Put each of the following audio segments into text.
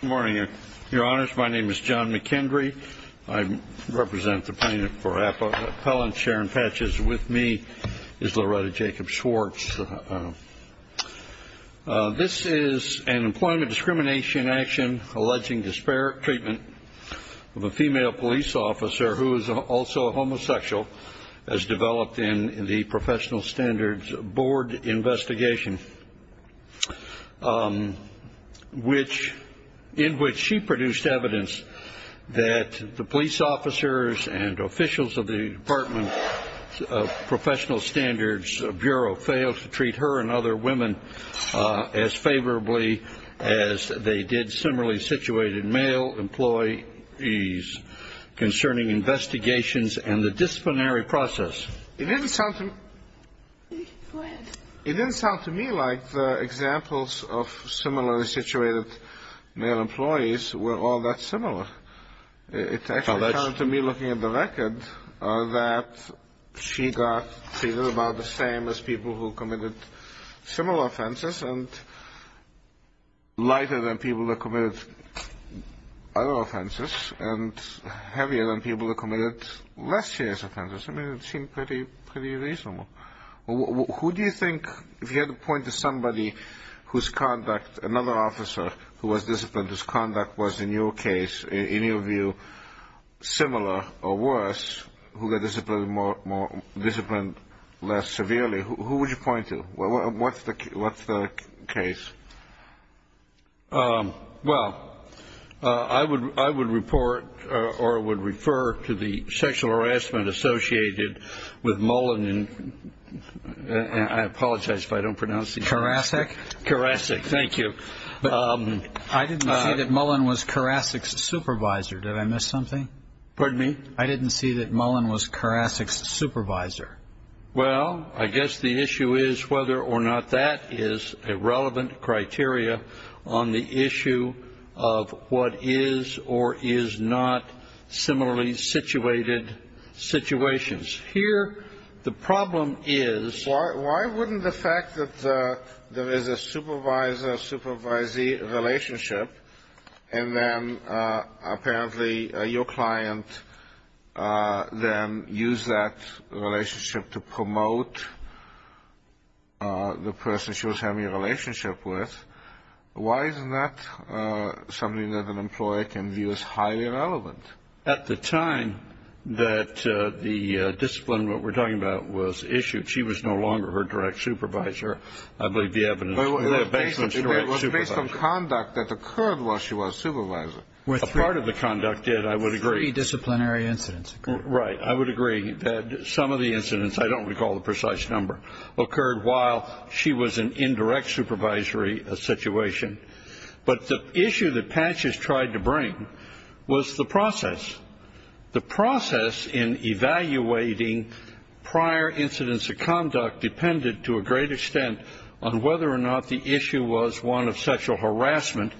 Good morning, your honors. My name is John McKendry. I represent the plaintiff for Appellant Sharon Patches. With me is Loretta Jacobs Schwartz. This is an employment discrimination action alleging disparate treatment of a female police officer who is also a homosexual as developed in the Professional Standards Board investigation. In which she produced evidence that the police officers and officials of the Department of Professional Standards Bureau failed to treat her and other women as favorably as they did similarly situated male employees concerning investigations and the disciplinary process. It didn't sound to me like the examples of similarly situated male employees were all that similar. It actually sounded to me looking at the record that she got treated about the same as people who committed similar offenses and lighter than people who committed other offenses and heavier than people who committed less serious offenses. I mean, it seemed pretty reasonable. Who do you think, if you had to point to somebody whose conduct, another officer who was disciplined, whose conduct was in your case, in your view, similar or worse, who got disciplined less severely, who would you point to? What's the case? Well, I would report or would refer to the sexual harassment associated with Mullen and I apologize if I don't pronounce it correctly. Karasek? Karasek, thank you. I didn't see that Mullen was Karasek's supervisor. Did I miss something? Pardon me? I didn't see that Mullen was Karasek's supervisor. Well, I guess the issue is whether or not that is a relevant criteria on the issue of what is or is not similarly situated situations. Here, the problem is Why wouldn't the fact that there is a supervisor-supervisee relationship and then apparently your client then used that relationship to promote the person she was having a relationship with, why isn't that something that an employer can view as highly relevant? At the time that the discipline, what we're talking about, was issued, she was no longer her direct supervisor. I believe the evidence. It was based on conduct that occurred while she was a supervisor. A part of the conduct did, I would agree. Three disciplinary incidents occurred. Right. I would agree that some of the incidents, I don't recall the precise number, occurred while she was an indirect supervisory situation. But the issue that Patches tried to bring was the process. The process in evaluating prior incidents of conduct depended to a great extent on whether or not the issue was one of sexual harassment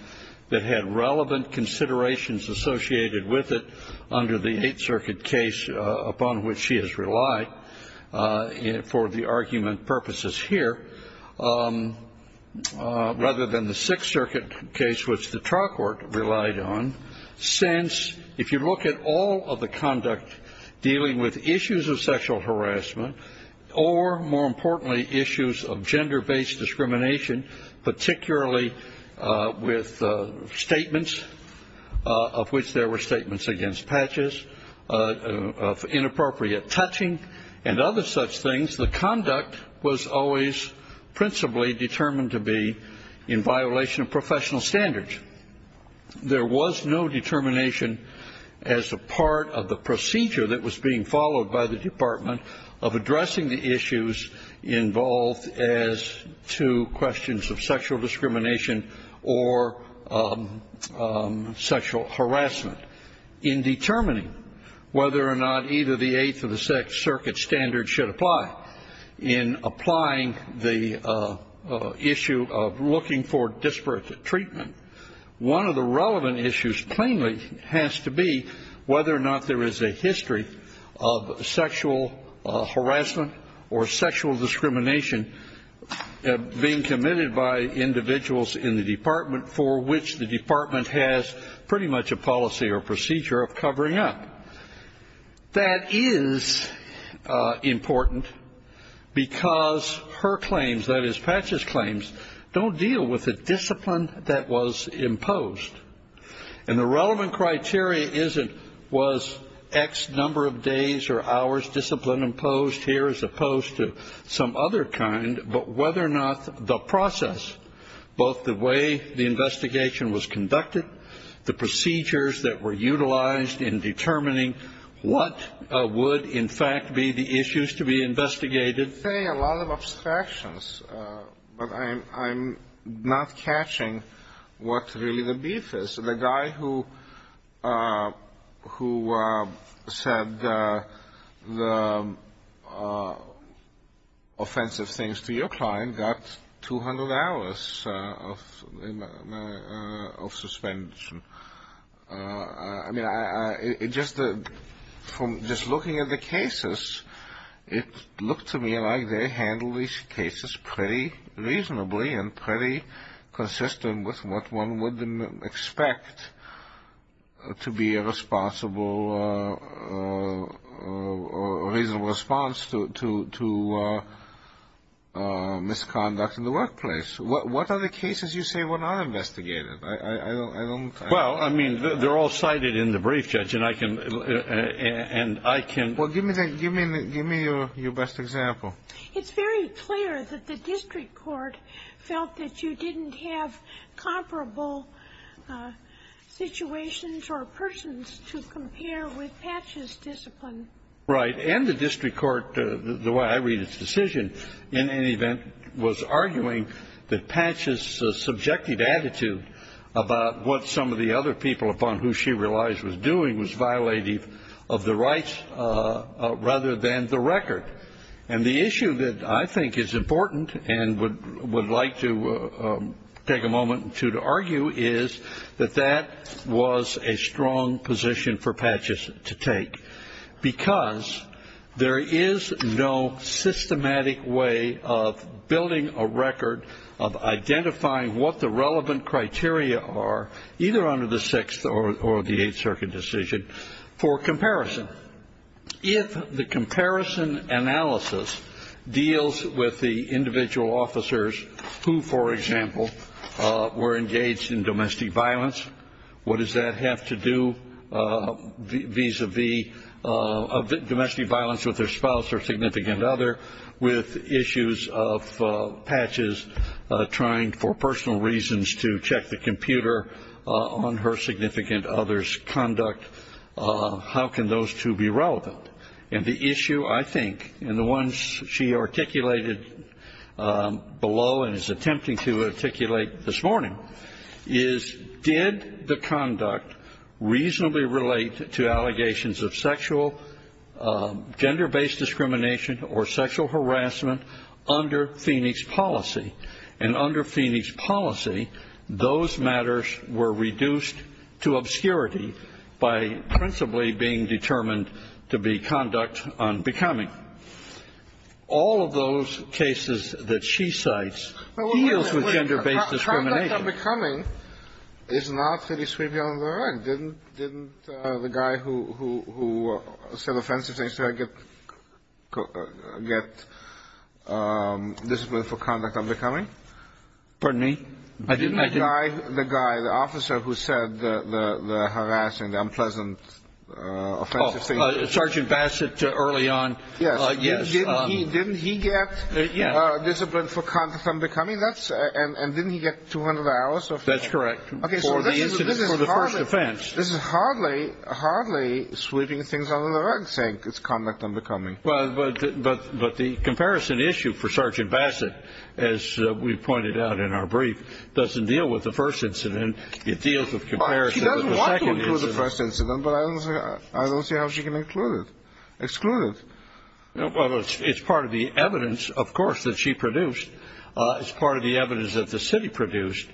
that had relevant considerations associated with it under the Eighth Circuit case upon which she has relied for the argument purposes here, rather than the Sixth Circuit case, which the trial court relied on. Since, if you look at all of the conduct dealing with issues of sexual harassment or, more importantly, issues of gender-based discrimination, particularly with statements of which there were statements against Patches of inappropriate touching and other such things, the conduct was always principally determined to be in violation of professional standards. There was no determination as a part of the procedure that was being followed by the Department of addressing the issues involved as to questions of sexual discrimination or sexual harassment. In determining whether or not either the Eighth or the Sixth Circuit standards should apply, in applying the issue of looking for disparate treatment, one of the relevant issues plainly has to be whether or not there is a history of sexual harassment or sexual discrimination being committed by individuals in the department for which the department has pretty much a policy or practice. or procedure of covering up. That is important because her claims, that is, Patches' claims, don't deal with the discipline that was imposed. And the relevant criteria isn't, was X number of days or hours discipline imposed here as opposed to some other kind, but whether or not the process, both the way the investigation was conducted, the procedures that were utilized in determining what would, in fact, be the issues to be investigated. You say a lot of abstractions, but I'm not catching what really the beef is. The guy who said the offensive things to your client got 200 hours of suspension. I mean, it just, from just looking at the cases, it looked to me like they handled these cases pretty reasonably and pretty consistent with what one would expect to be a responsible, reasonable response to misconduct in the workplace. What are the cases you say were not investigated? Well, I mean, they're all cited in the brief, Judge, and I can... Well, give me your best example. It's very clear that the district court felt that you didn't have comparable situations or persons to compare with Patches' discipline. Right. And the district court, the way I read its decision, in any event, was arguing that Patches' subjective attitude about what some of the other people, upon who she realized was doing, was violating of the rights rather than the record. And the issue that I think is important and would like to take a moment to argue is that that was a strong position for Patches to take, because there is no systematic way of building a record of identifying what the relevant criteria are, either under the Sixth or the Eighth Circuit decision, for comparison. If the comparison analysis deals with the individual officers who, for example, were engaged in domestic violence, what does that have to do vis-a-vis domestic violence with their spouse or significant other with issues of Patches trying for personal reasons to check the computer on her significant other's conduct? How can those two be relevant? And the issue, I think, and the ones she articulated below and is attempting to articulate this morning, is did the conduct reasonably relate to allegations of sexual, gender-based discrimination or sexual harassment under Phoenix policy? And under Phoenix policy, those matters were reduced to obscurity by principally being determined to be conduct unbecoming. All of those cases that she cites deals with gender-based discrimination. The conduct unbecoming is not really sweeping under the rug. Didn't the guy who said offensive things to her get discipline for conduct unbecoming? Pardon me? Didn't the guy, the officer who said the harassing, the unpleasant offensive things? Oh, Sergeant Bassett, early on. Yes. Didn't he get discipline for conduct unbecoming? And didn't he get 200 hours? That's correct. For the first offense. This is hardly sweeping things under the rug, saying it's conduct unbecoming. But the comparison issue for Sergeant Bassett, as we pointed out in our brief, doesn't deal with the first incident. It deals with comparison with the second incident. She doesn't want to include the first incident, but I don't see how she can exclude it. Well, it's part of the evidence, of course, that she produced. It's part of the evidence that the city produced.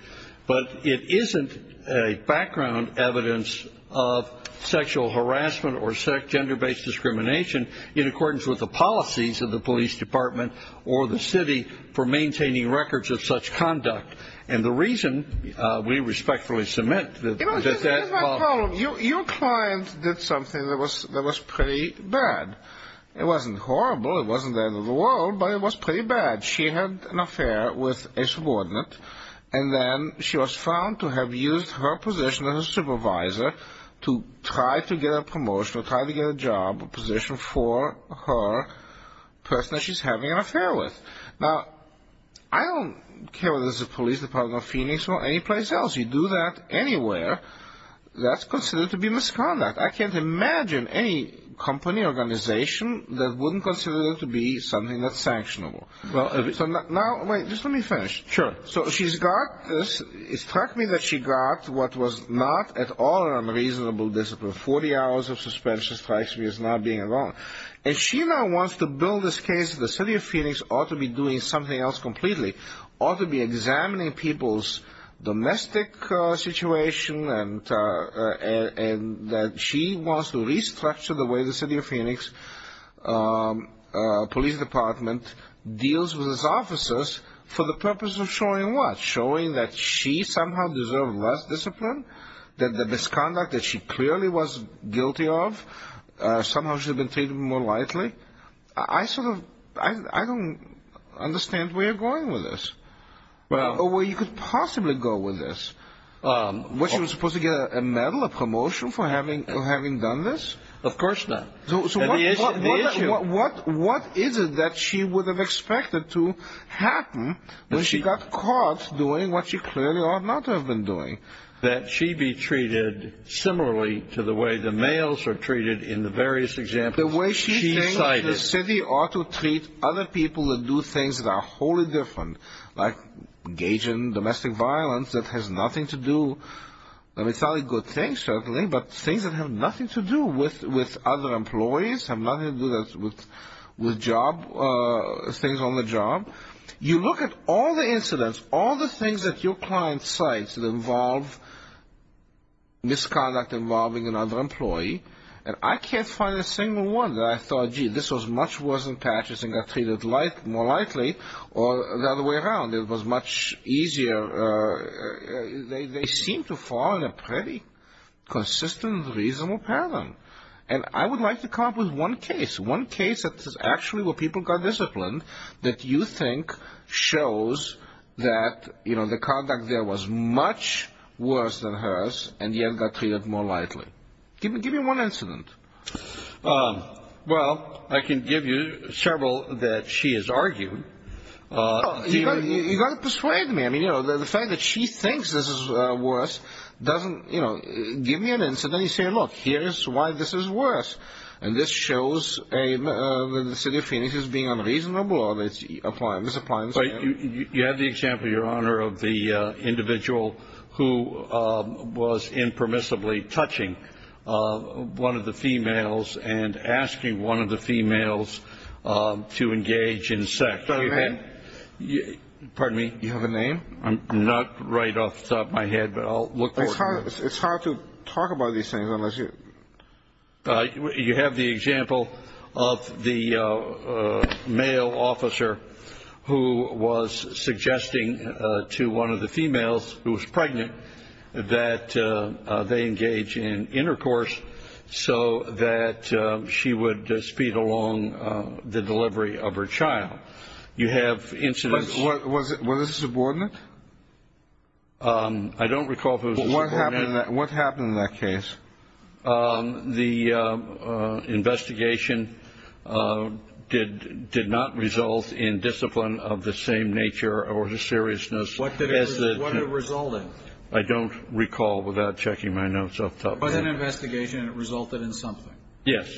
But it isn't a background evidence of sexual harassment or gender-based discrimination in accordance with the policies of the police department or the city for maintaining records of such conduct. And the reason we respectfully submit that that's not true. Here's my problem. Your client did something that was pretty bad. It wasn't horrible. It wasn't the end of the world. But it was pretty bad. She had an affair with a subordinate, and then she was found to have used her position as a supervisor to try to get a promotion or try to get a job, a position for her person that she's having an affair with. Now, I don't care whether this is the police department of Phoenix or any place else. You do that anywhere, that's considered to be misconduct. I can't imagine any company or organization that wouldn't consider it to be something that's sanctionable. Now, wait, just let me finish. Sure. So she's got this. It struck me that she got what was not at all an unreasonable discipline. 40 hours of suspension strikes me as not being wrong. And she now wants to build this case that the city of Phoenix ought to be doing something else completely, ought to be examining people's domestic situation, and that she wants to restructure the way the city of Phoenix police department deals with its officers for the purpose of showing what? Showing that she somehow deserved less discipline, that the misconduct that she clearly was guilty of, somehow she should have been treated more lightly. I sort of don't understand where you're going with this, or where you could possibly go with this. Was she supposed to get a medal, a promotion for having done this? Of course not. So what is it that she would have expected to happen when she got caught doing what she clearly ought not to have been doing? That she be treated similarly to the way the males are treated in the various examples she cited? The way she thinks the city ought to treat other people that do things that are wholly different, like engaging in domestic violence that has nothing to do, I mean, it's not a good thing, certainly, but things that have nothing to do with other employees, have nothing to do with things on the job. You look at all the incidents, all the things that your client cites that involve misconduct involving another employee, and I can't find a single one that I thought, gee, this was much worse than patches and got treated more lightly, or the other way around, it was much easier. They seem to fall in a pretty consistent, reasonable pattern. And I would like to come up with one case, one case that is actually where people got disciplined, that you think shows that the conduct there was much worse than hers, and yet got treated more lightly. Give me one incident. Well, I can give you several that she has argued. You've got to persuade me. I mean, you know, the fact that she thinks this is worse doesn't, you know, give me an incident, and then you say, look, here's why this is worse, and this shows that the city of Phoenix is being unreasonable, or it's misapplying. You have the example, Your Honor, of the individual who was impermissibly touching one of the females and asking one of the females to engage in sex. Pardon me? You have a name? I'm not right off the top of my head, but I'll look for it. It's hard to talk about these things unless you. You have the example of the male officer who was suggesting to one of the females who was pregnant that they engage in intercourse so that she would speed along the delivery of her child. You have incidents. Was it a subordinate? I don't recall if it was a subordinate. What happened in that case? The investigation did not result in discipline of the same nature or the seriousness. What did it result in? I don't recall without checking my notes off the top of my head. It was an investigation, and it resulted in something. Yes.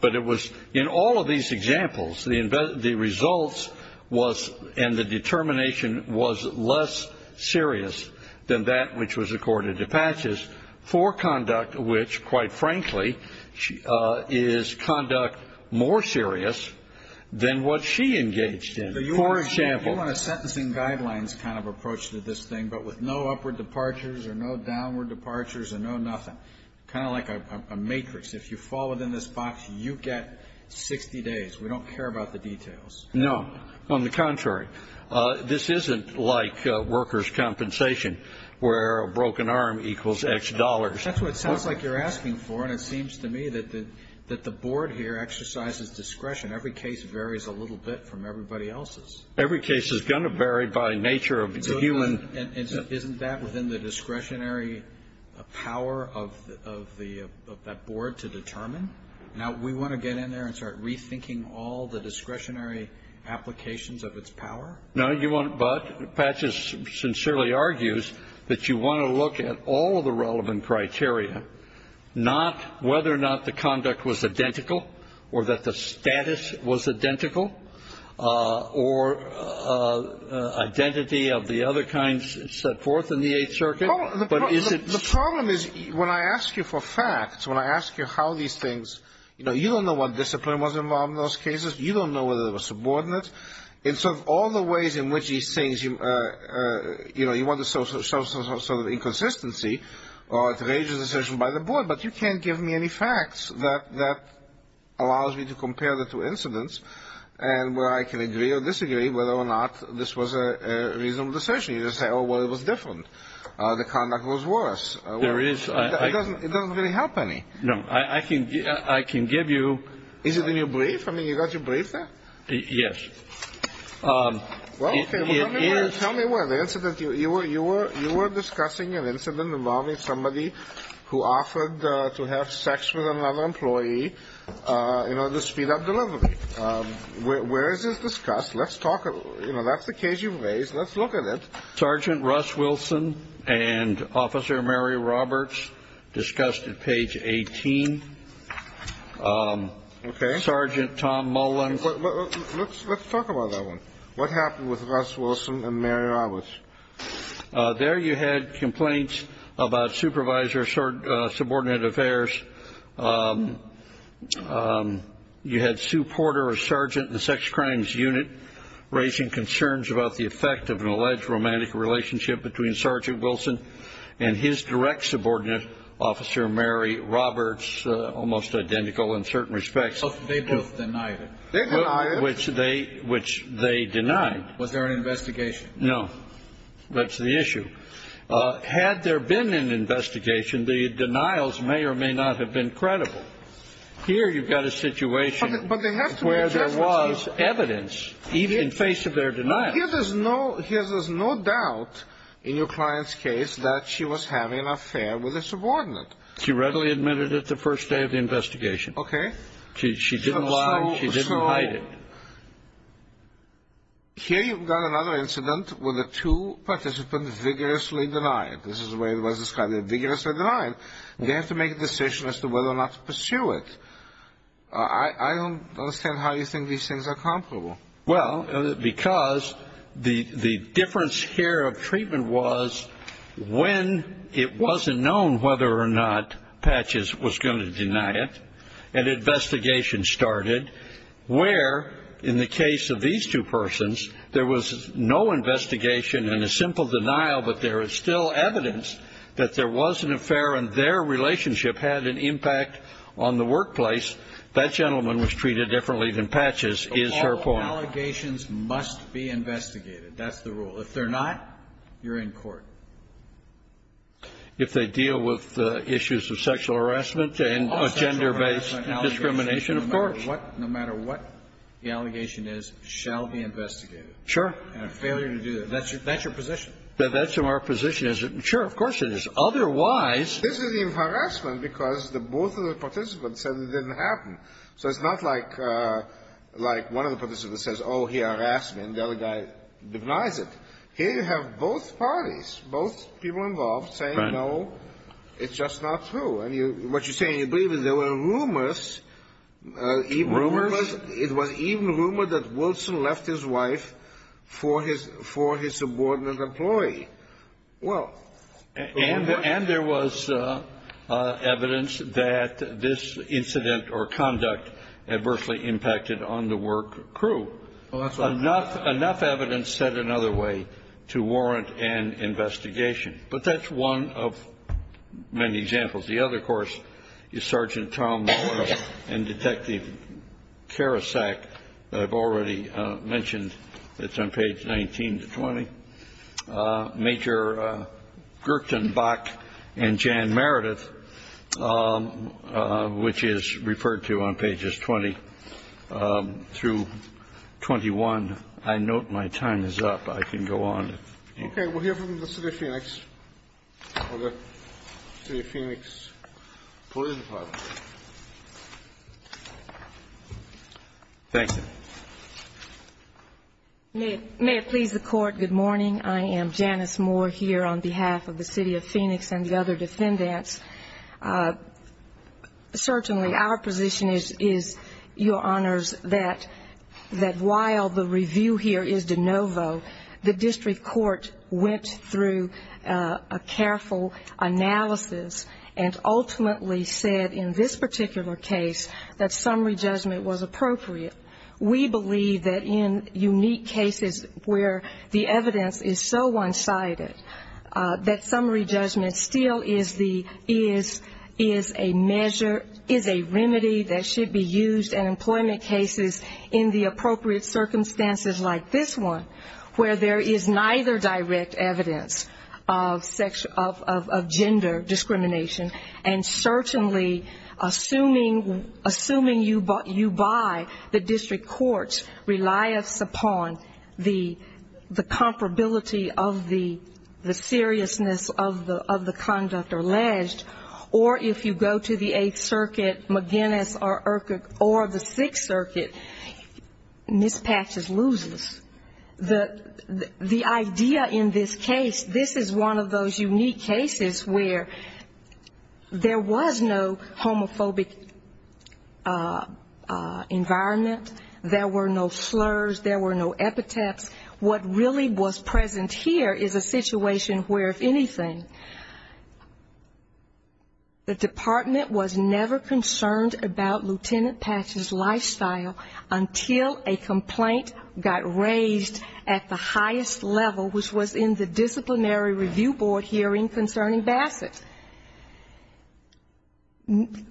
But it was in all of these examples, the results was and the determination was less serious than that which was accorded to Patches for conduct, which, quite frankly, is conduct more serious than what she engaged in. For example. You want a sentencing guidelines kind of approach to this thing, but with no upward departures or no downward departures or no nothing. Kind of like a matrix. If you fall within this box, you get 60 days. We don't care about the details. No. On the contrary. This isn't like workers' compensation where a broken arm equals X dollars. That's what it sounds like you're asking for, and it seems to me that the board here exercises discretion. Every case varies a little bit from everybody else's. Every case is going to vary by nature of the human. Isn't that within the discretionary power of that board to determine? Now, we want to get in there and start rethinking all the discretionary applications of its power? No, you won't. But Patches sincerely argues that you want to look at all of the relevant criteria, not whether or not the conduct was identical or that the status was identical or identity of the other kinds set forth in the Eighth Circuit. The problem is when I ask you for facts, when I ask you how these things, you know, you don't know what discipline was involved in those cases. You don't know whether they were subordinate. And so all the ways in which these things, you know, you want to show some sort of inconsistency, it raises a decision by the board. But you can't give me any facts that allows me to compare the two incidents and where I can agree or disagree whether or not this was a reasonable decision. You just say, oh, well, it was different. The conduct was worse. There is. It doesn't really help any. No. I can give you. Is it in your brief? I mean, you got your brief there? Yes. Well, okay. Tell me where the incident, you were discussing an incident involving somebody who offered to have sex with another employee in order to speed up delivery. Where is this discussed? Let's talk about it. You know, that's the case you've raised. Let's look at it. Sergeant Russ Wilson and Officer Mary Roberts discussed at page 18. Okay. Sergeant Tom Mullins. Let's talk about that one. What happened with Russ Wilson and Mary Roberts? There you had complaints about supervisor subordinate affairs. You had Sue Porter, a sergeant in the sex crimes unit, raising concerns about the effect of an alleged romantic relationship between Sergeant Wilson and his direct subordinate, Officer Mary Roberts, almost identical in certain respects. They both denied it. They denied it. Which they denied. Was there an investigation? No. That's the issue. Had there been an investigation, the denials may or may not have been credible. Here you've got a situation where there was evidence in face of their denial. Here there's no doubt in your client's case that she was having an affair with a subordinate. She readily admitted it the first day of the investigation. Okay. She didn't lie. She didn't hide it. Here you've got another incident where the two participants vigorously denied it. This is the way it was described, they vigorously denied it. They have to make a decision as to whether or not to pursue it. I don't understand how you think these things are comparable. Well, because the difference here of treatment was when it wasn't known whether or not Patches was going to deny it, an investigation started where, in the case of these two persons, there was no investigation and a simple denial, but there is still evidence that there was an affair and their relationship had an impact on the workplace. That gentleman was treated differently than Patches is her point. All allegations must be investigated. That's the rule. If they're not, you're in court. If they deal with issues of sexual harassment and gender-based discrimination, of course. No matter what the allegation is, it shall be investigated. Sure. And a failure to do that. That's your position. That's our position. Sure, of course it is. Otherwise. This is harassment because both of the participants said it didn't happen. So it's not like one of the participants says, oh, he harassed me, and the other guy denies it. Here you have both parties, both people involved, saying, no, it's just not true. And what you say and you believe is there were rumors. Rumors? It was even rumored that Wilson left his wife for his subordinate employee. And there was evidence that this incident or conduct adversely impacted on the work crew. Oh, that's right. Enough evidence said another way to warrant an investigation. But that's one of many examples. The other, of course, is Sergeant Tom Morris and Detective Karasak that I've already mentioned. It's on page 19 to 20. Major Gertenbach and Jan Meredith, which is referred to on pages 20 through 21. I note my time is up. I can go on. Okay. We'll hear from the City of Phoenix or the City of Phoenix Police Department. Thank you. May it please the Court. Good morning. I am Janice Moore here on behalf of the City of Phoenix and the other defendants. Certainly our position is, Your Honors, that while the review here is de novo, the district court went through a careful analysis and ultimately said in this particular case that summary judgment was appropriate. We believe that in unique cases where the evidence is so one-sided, that summary judgment still is a measure, is a remedy that should be used in employment cases in the appropriate circumstances like this one, where there is neither direct evidence of gender discrimination, and certainly assuming you buy, the district courts rely upon the comparability of the seriousness of the conduct alleged, or if you go to the Eighth Circuit, McGinnis, or the Sixth Circuit, mispatches loses. The idea in this case, this is one of those unique cases where there was no homophobic environment, there were no slurs, there were no epithets. What really was present here is a situation where, if anything, the department was never concerned about Lieutenant Patch's lifestyle until a complaint got raised at the highest level, which was in the disciplinary review board hearing concerning Bassett.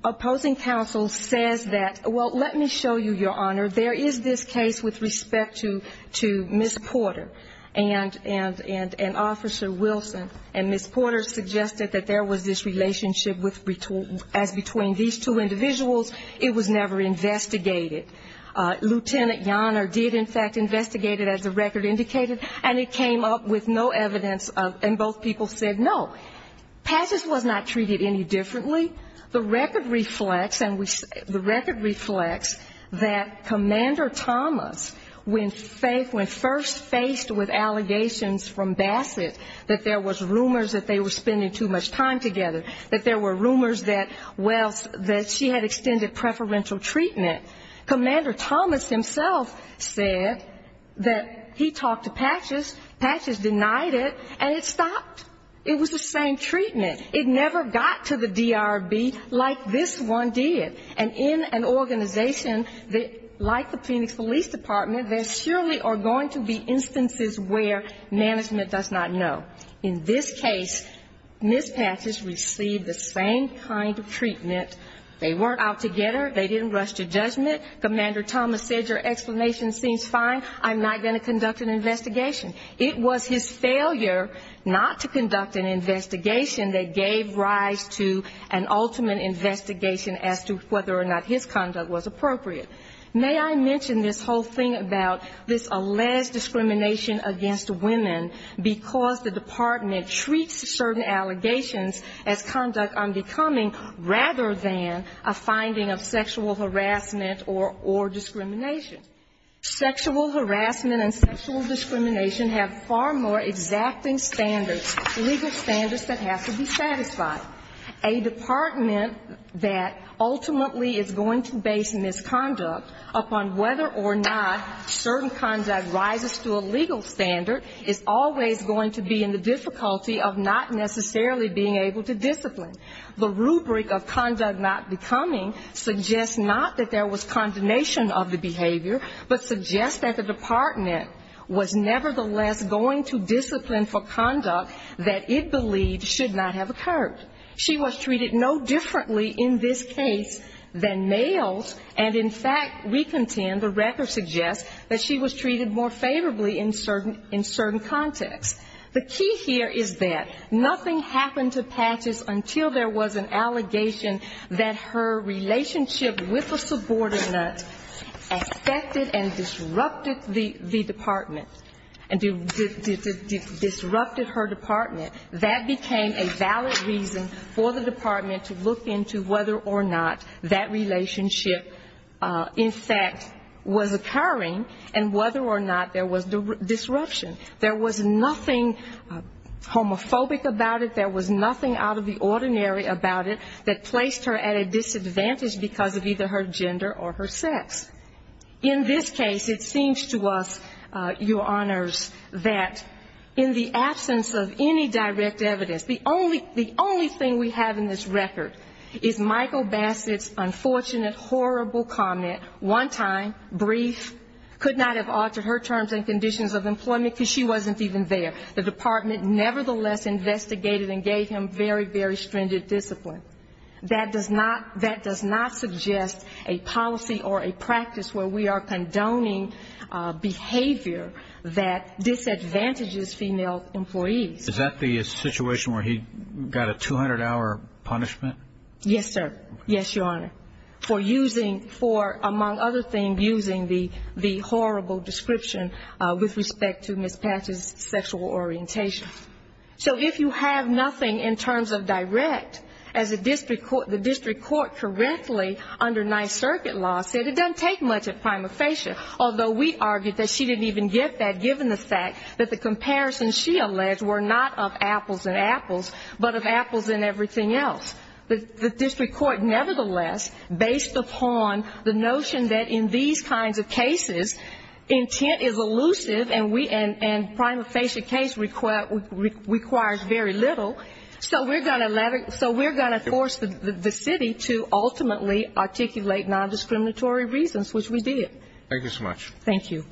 Opposing counsel says that, well, let me show you, Your Honor, there is this case with respect to Ms. Porter and Officer Wilson, and Ms. Porter suggested that there was this relationship as between these two individuals, it was never investigated. Lieutenant Yoner did, in fact, investigate it, as the record indicated, and it came up with no evidence, and both people said no. Patch's was not treated any differently. The record reflects that Commander Thomas, when first faced with allegations from Bassett, that there was rumors that they were spending too much time together, that there were rumors that, well, that she had extended preferential treatment, Commander Thomas himself said that he talked to Patch's, Patch's denied it, and it stopped. It was the same treatment. It never got to the DRB like this one did. And in an organization like the Phoenix Police Department, there surely are going to be instances where management does not know. In this case, Ms. Patch's received the same kind of treatment. They weren't out together. They didn't rush to judgment. Commander Thomas said your explanation seems fine. I'm not going to conduct an investigation. It was his failure not to conduct an investigation that gave rise to an ultimate investigation as to whether or not his conduct was appropriate. May I mention this whole thing about this alleged discrimination against women, because the department treats certain allegations as conduct unbecoming, rather than a finding of sexual harassment or discrimination. Sexual harassment and sexual discrimination have far more exacting standards, legal standards that have to be satisfied. A department that ultimately is going to base misconduct upon whether or not certain conduct rises to a legal standard is always going to be in the difficulty of not necessarily being able to discipline. The rubric of conduct not becoming suggests not that there was condemnation of the behavior, but suggests that the department was nevertheless going to discipline for conduct that it believed should not have occurred. She was treated no differently in this case than males, and in fact we contend, the record suggests, that she was treated more favorably in certain contexts. The key here is that nothing happened to Patch's until there was an allegation that her relationship with a subordinate affected and disrupted the department, and disrupted her department. That became a valid reason for the department to look into whether or not that relationship, in fact, was occurring, and whether or not there was disruption. There was nothing homophobic about it, there was nothing out of the ordinary about it, that placed her at a disadvantage because of either her gender or her sex. In this case, it seems to us, Your Honors, that in the absence of any direct evidence, the only thing we have in this record is Michael Bassett's unfortunate, horrible comment, one time, brief, could not have altered her terms and conditions of employment because she wasn't even there. The department nevertheless investigated and gave him very, very stringent discipline. That does not suggest a policy or a practice where we are condoning behavior that disadvantages female employees. Is that the situation where he got a 200-hour punishment? Yes, sir. Yes, Your Honor, for using, among other things, using the horrible description with respect to Ms. Patch's sexual orientation. So if you have nothing in terms of direct, as the district court currently, under Ninth Circuit law, said it doesn't take much at prima facie, although we argue that she didn't even get that, given the fact that the comparisons she alleged were not of apples and apples, but of apples and everything else. The district court nevertheless, based upon the notion that in these kinds of cases, intent is elusive, and prima facie case requires very little. So we're going to force the city to ultimately articulate nondiscriminatory reasons, which we did. Thank you so much. Thank you.